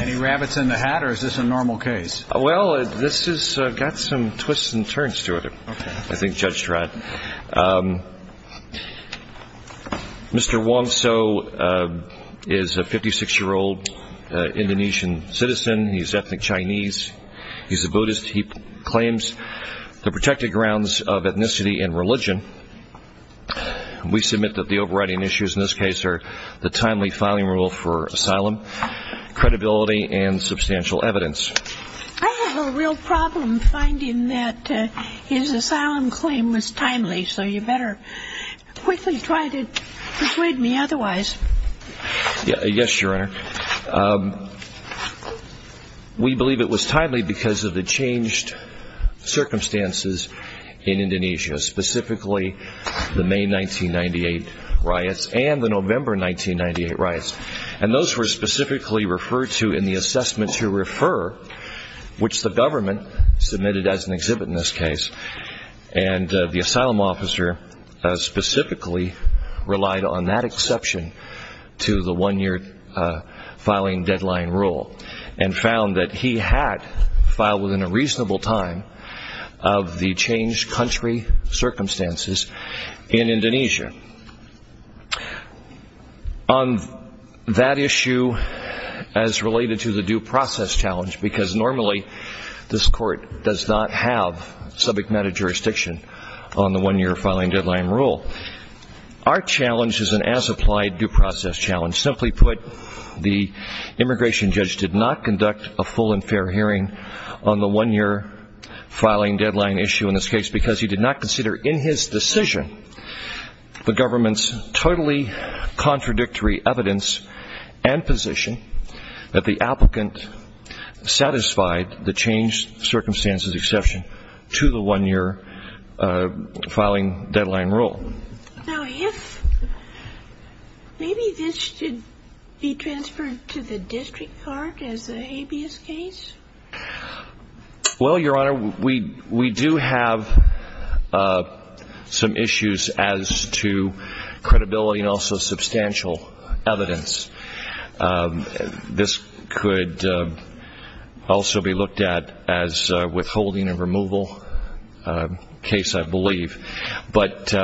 Any rabbits in the hat, or is this a normal case? Well, this has got some twists and turns to it, I think Judge Trott. Mr. Wongso is a 56-year-old Indonesian citizen. He's ethnic Chinese. He's a Buddhist. He claims the protected grounds of ethnicity and religion. We submit that the overriding issues in this case are the timely filing rule for asylum, credibility, and substantial evidence. I have a real problem finding that his asylum claim was timely, so you better quickly try to persuade me otherwise. Yes, Your Honor. We believe it was timely because of the changed circumstances in Indonesia, specifically the May 1998 riots and the November 1998 riots. And those were specifically referred to in the assessment to refer, which the government submitted as an exhibit in this case. And the asylum officer specifically relied on that exception to the one-year filing deadline rule and found that he had filed within a reasonable time of the changed country circumstances in Indonesia. On that issue, as related to the due process challenge, because normally this court does not have subject matter jurisdiction on the one-year filing deadline rule, our challenge is an as-applied due process challenge. Simply put, the immigration judge did not conduct a full and fair hearing on the one-year filing deadline issue in this case because he did not consider in his decision the government's totally contradictory evidence and position that the applicant satisfied the changed circumstances exception to the one-year filing deadline rule. Now, if maybe this should be transferred to the district court as an habeas case? Well, Your Honor, we do have some issues as to credibility and also substantial evidence. This could also be looked at as a withholding and removal case, I believe. But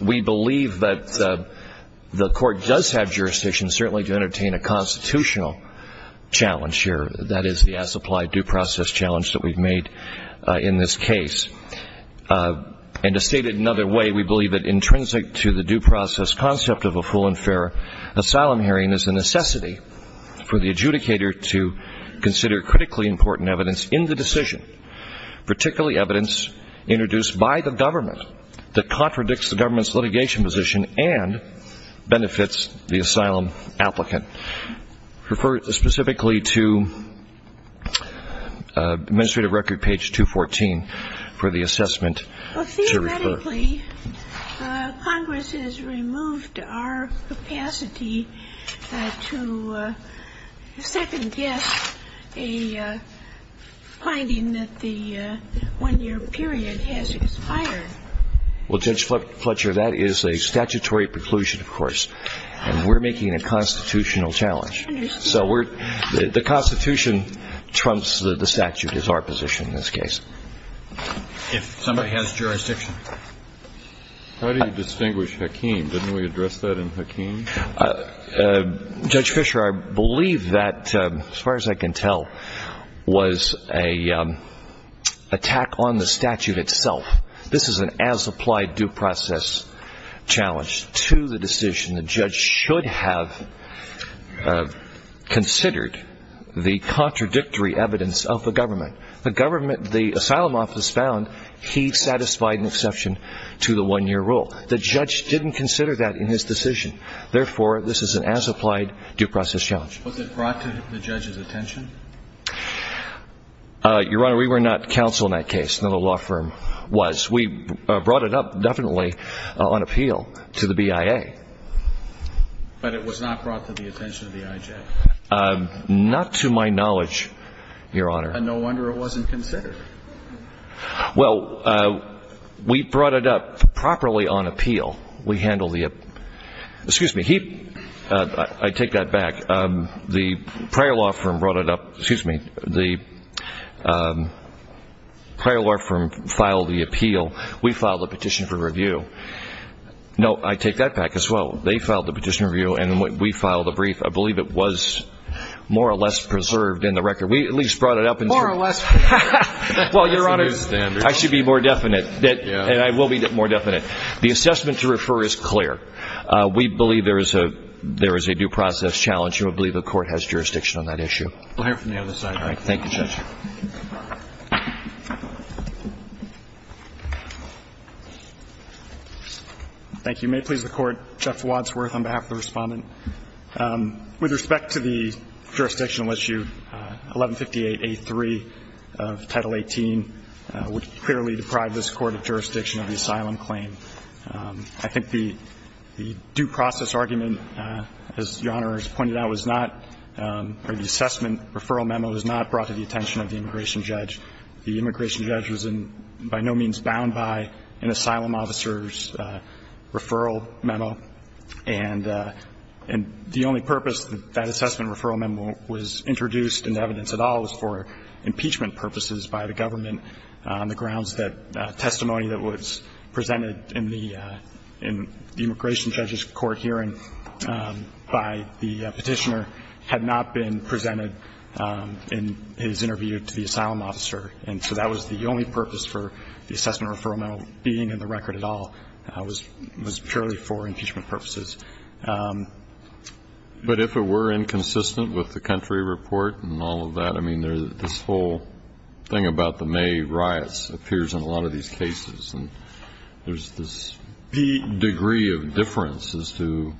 we believe that the court does have jurisdiction certainly to entertain a constitutional challenge here. That is the as-applied due process challenge that we've made in this case. And to state it another way, we believe that intrinsic to the due process concept of a full and fair asylum hearing is the necessity for the adjudicator to consider critically important evidence in the decision, particularly evidence introduced by the government that contradicts the government's litigation position and benefits the asylum applicant. Refer specifically to administrative record page 214 for the assessment to refer. Well, theoretically, Congress has removed our capacity to second-guess a finding that the one-year period has expired. Well, Judge Fletcher, that is a statutory preclusion, of course, and we're making a constitutional challenge. So the Constitution trumps the statute is our position in this case. If somebody has jurisdiction. How do you distinguish Hakeem? Didn't we address that in Hakeem? Judge Fisher, I believe that, as far as I can tell, was an attack on the statute itself. This is an as-applied due process challenge to the decision. The judge should have considered the contradictory evidence of the government. The asylum office found he satisfied an exception to the one-year rule. The judge didn't consider that in his decision. Therefore, this is an as-applied due process challenge. Was it brought to the judge's attention? Your Honor, we were not counsel in that case. None of the law firm was. We brought it up definitely on appeal to the BIA. But it was not brought to the attention of the IJ? Not to my knowledge, Your Honor. And no wonder it wasn't considered. Well, we brought it up properly on appeal. We handled the – excuse me. I take that back. The prior law firm brought it up – excuse me. The prior law firm filed the appeal. We filed the petition for review. No, I take that back as well. They filed the petition for review, and we filed a brief. I believe it was more or less preserved in the record. We at least brought it up. More or less. Well, Your Honor, I should be more definite, and I will be more definite. The assessment to refer is clear. We believe there is a due process challenge, and we believe the court has jurisdiction on that issue. We'll hear from the other side. All right. Thank you, Judge. Thank you. May it please the Court, Jeff Wadsworth on behalf of the Respondent. With respect to the jurisdictional issue, 1158A3 of Title 18 would clearly deprive this court of jurisdiction of the asylum claim. I think the due process argument, as Your Honor has pointed out, was not, or the assessment referral memo was not brought to the attention of the immigration judge. The immigration judge was by no means bound by an asylum officer's referral memo. And the only purpose that assessment referral memo was introduced into evidence at all was for impeachment purposes by the government on the grounds that testimony that was presented in the immigration judge's court hearing by the petitioner had not been presented in his interview to the asylum officer. And so that was the only purpose for the assessment referral memo being in the record at all, was purely for impeachment purposes. But if it were inconsistent with the country report and all of that, I mean, this whole thing about the May riots appears in a lot of these cases. And there's this degree of difference as to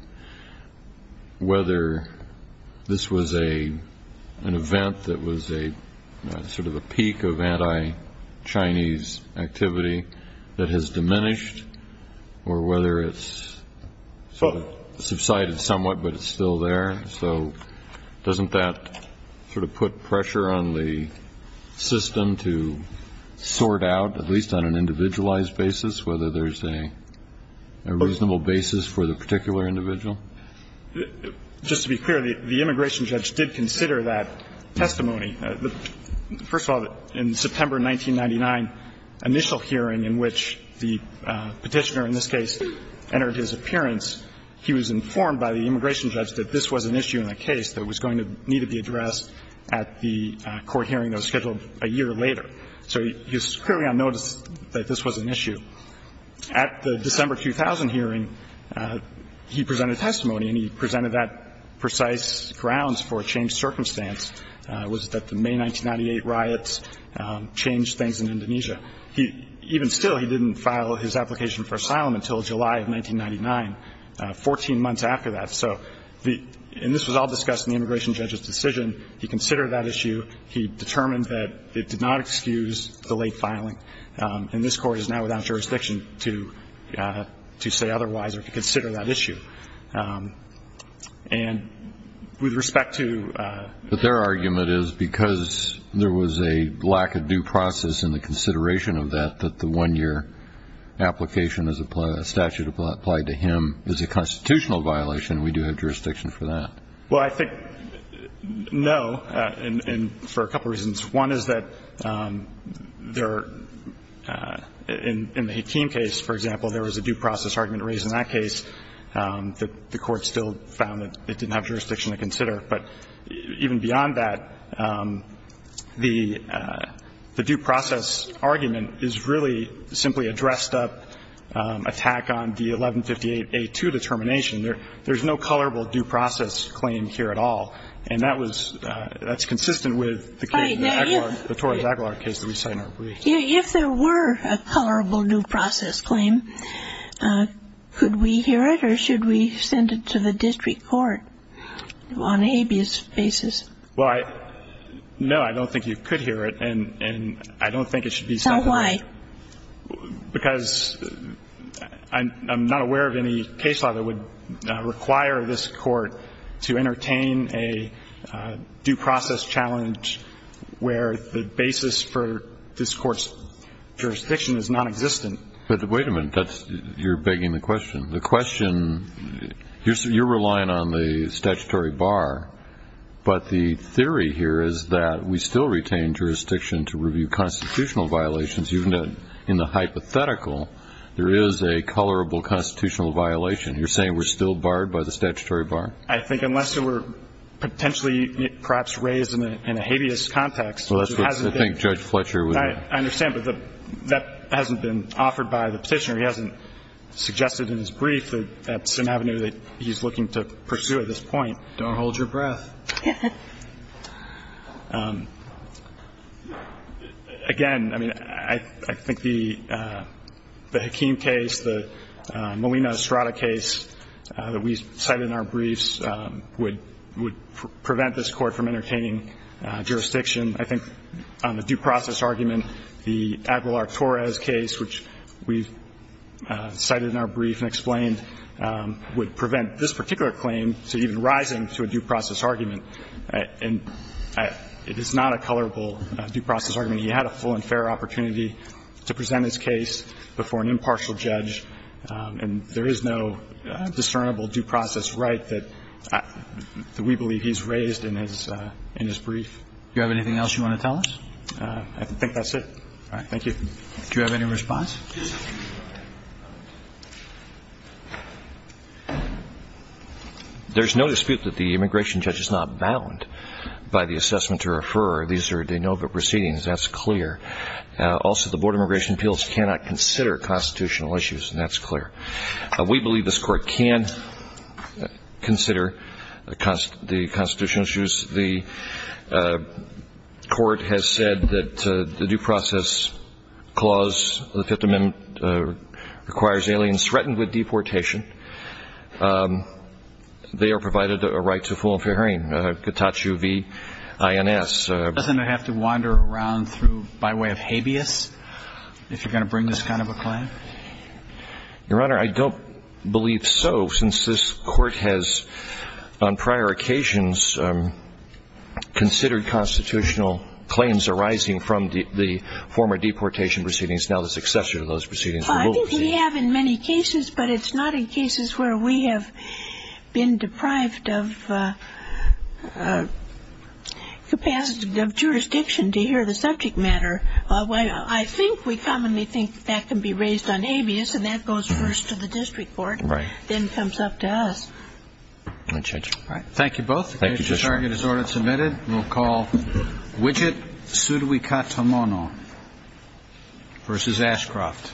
whether this was an event that was a sort of a peak of anti-Chinese activity that has diminished or whether it's subsided somewhat but it's still there. So doesn't that sort of put pressure on the system to sort out, at least on an individualized basis, whether there's a reasonable basis for the particular individual? Just to be clear, the immigration judge did consider that testimony. First of all, in September 1999, initial hearing in which the petitioner in this case entered his appearance, he was informed by the immigration judge that this was an issue in a case that was going to need to be addressed at the court hearing that was scheduled a year later. So he was clearly on notice that this was an issue. At the December 2000 hearing, he presented testimony, and he presented that precise grounds for a changed circumstance was that the May 1998 riots changed things in Indonesia. Even still, he didn't file his application for asylum until July of 1999, 14 months after that. And this was all discussed in the immigration judge's decision. He considered that issue. He determined that it did not excuse the late filing. And this Court is now without jurisdiction to say otherwise or to consider that issue. And with respect to the ---- Well, I think, no, and for a couple of reasons. One is that there are ---- in the Hakeem case, for example, there was a due process argument raised in that case that the Court still found that it didn't have jurisdiction to consider. But even beyond that, the due process argument is that there is a constitutional objection to that. And that the court's decision to consider that argument is really simply a dressed-up attack on the 1158A2 determination. There's no colorable due process claim here at all. And that was ---- that's consistent with the case, the Torres-Aguilar case that we cited. If there were a colorable due process claim, could we hear it or should we send it to the court? Why? Because I'm not aware of any case law that would require this Court to entertain a due process challenge where the basis for this Court's jurisdiction is nonexistent. But wait a minute. That's ---- you're begging the question. The question ---- you're relying on the statutory bar. But the theory here is that we still retain jurisdiction to review constitutional violations. Even in the hypothetical, there is a colorable constitutional violation. You're saying we're still barred by the statutory bar? I think unless there were potentially perhaps raised in a habeas context, which hasn't been ---- Well, that's what I think Judge Fletcher would ---- I understand. But that hasn't been offered by the Petitioner. He hasn't suggested in his brief that that's an avenue that he's looking to pursue at this point. Don't hold your breath. Again, I mean, I think the Hakim case, the Molina-Estrada case that we cited in our briefs would prevent this Court from entertaining jurisdiction. I think on the due process argument, the Aguilar-Torres case, which we cited in our brief, I think that's a very colorable argument. He's not presenting to a due process argument. And it is not a colorable due process argument. He had a full and fair opportunity to present his case before an impartial judge. And there is no discernible due process right that we believe he's raised in his ---- in his brief. Do you have anything else you want to tell us? I think that's it. Thank you. Do you have any response? There's no dispute that the immigration judge is not bound by the assessment to refer. These are de novo proceedings. That's clear. Also, the Board of Immigration Appeals cannot consider constitutional issues. And that's clear. We believe this Court can consider the constitutional issues. The Court has said that the due process clause of the Fifth Amendment requires aliens threatened with deportation. They are provided a right to full and fair hearing. Cotaccio v. INS. Doesn't it have to wander around by way of habeas if you're going to bring this kind of a claim? Your Honor, I don't believe so, since this Court has on prior occasions considered constitutional claims arising from the former deportation proceedings, now the successor to those proceedings. I think we have in many cases, but it's not in cases where we have been deprived of capacity of jurisdiction to hear the subject matter. I think we commonly think that can be raised on habeas, and that goes first to the district court, then comes up to us. Thank you, Judge. Thank you both. The case to target is order submitted. We'll call Widget Tsurikatamono v. Ashcroft.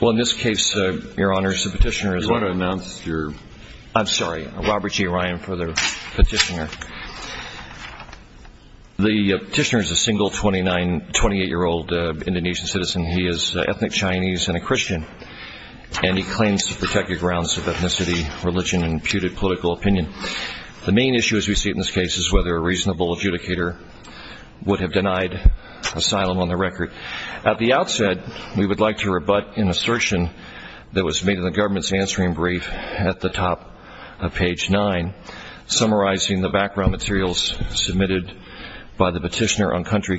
Well, in this case, Your Honor, the petitioner is a single 28-year-old Indonesian citizen. He is ethnic Chinese and a Christian, and he claims to protect the grounds of ethnicity, religion, and imputed political opinion. The main issue as we see it in this case is whether a reasonable adjudicator would have denied asylum on the record. At the outset, we would like to rebut an assertion that was made in the government's answering brief at the top of page 9, summarizing the background materials submitted by the petitioner on country of origin. Thank you.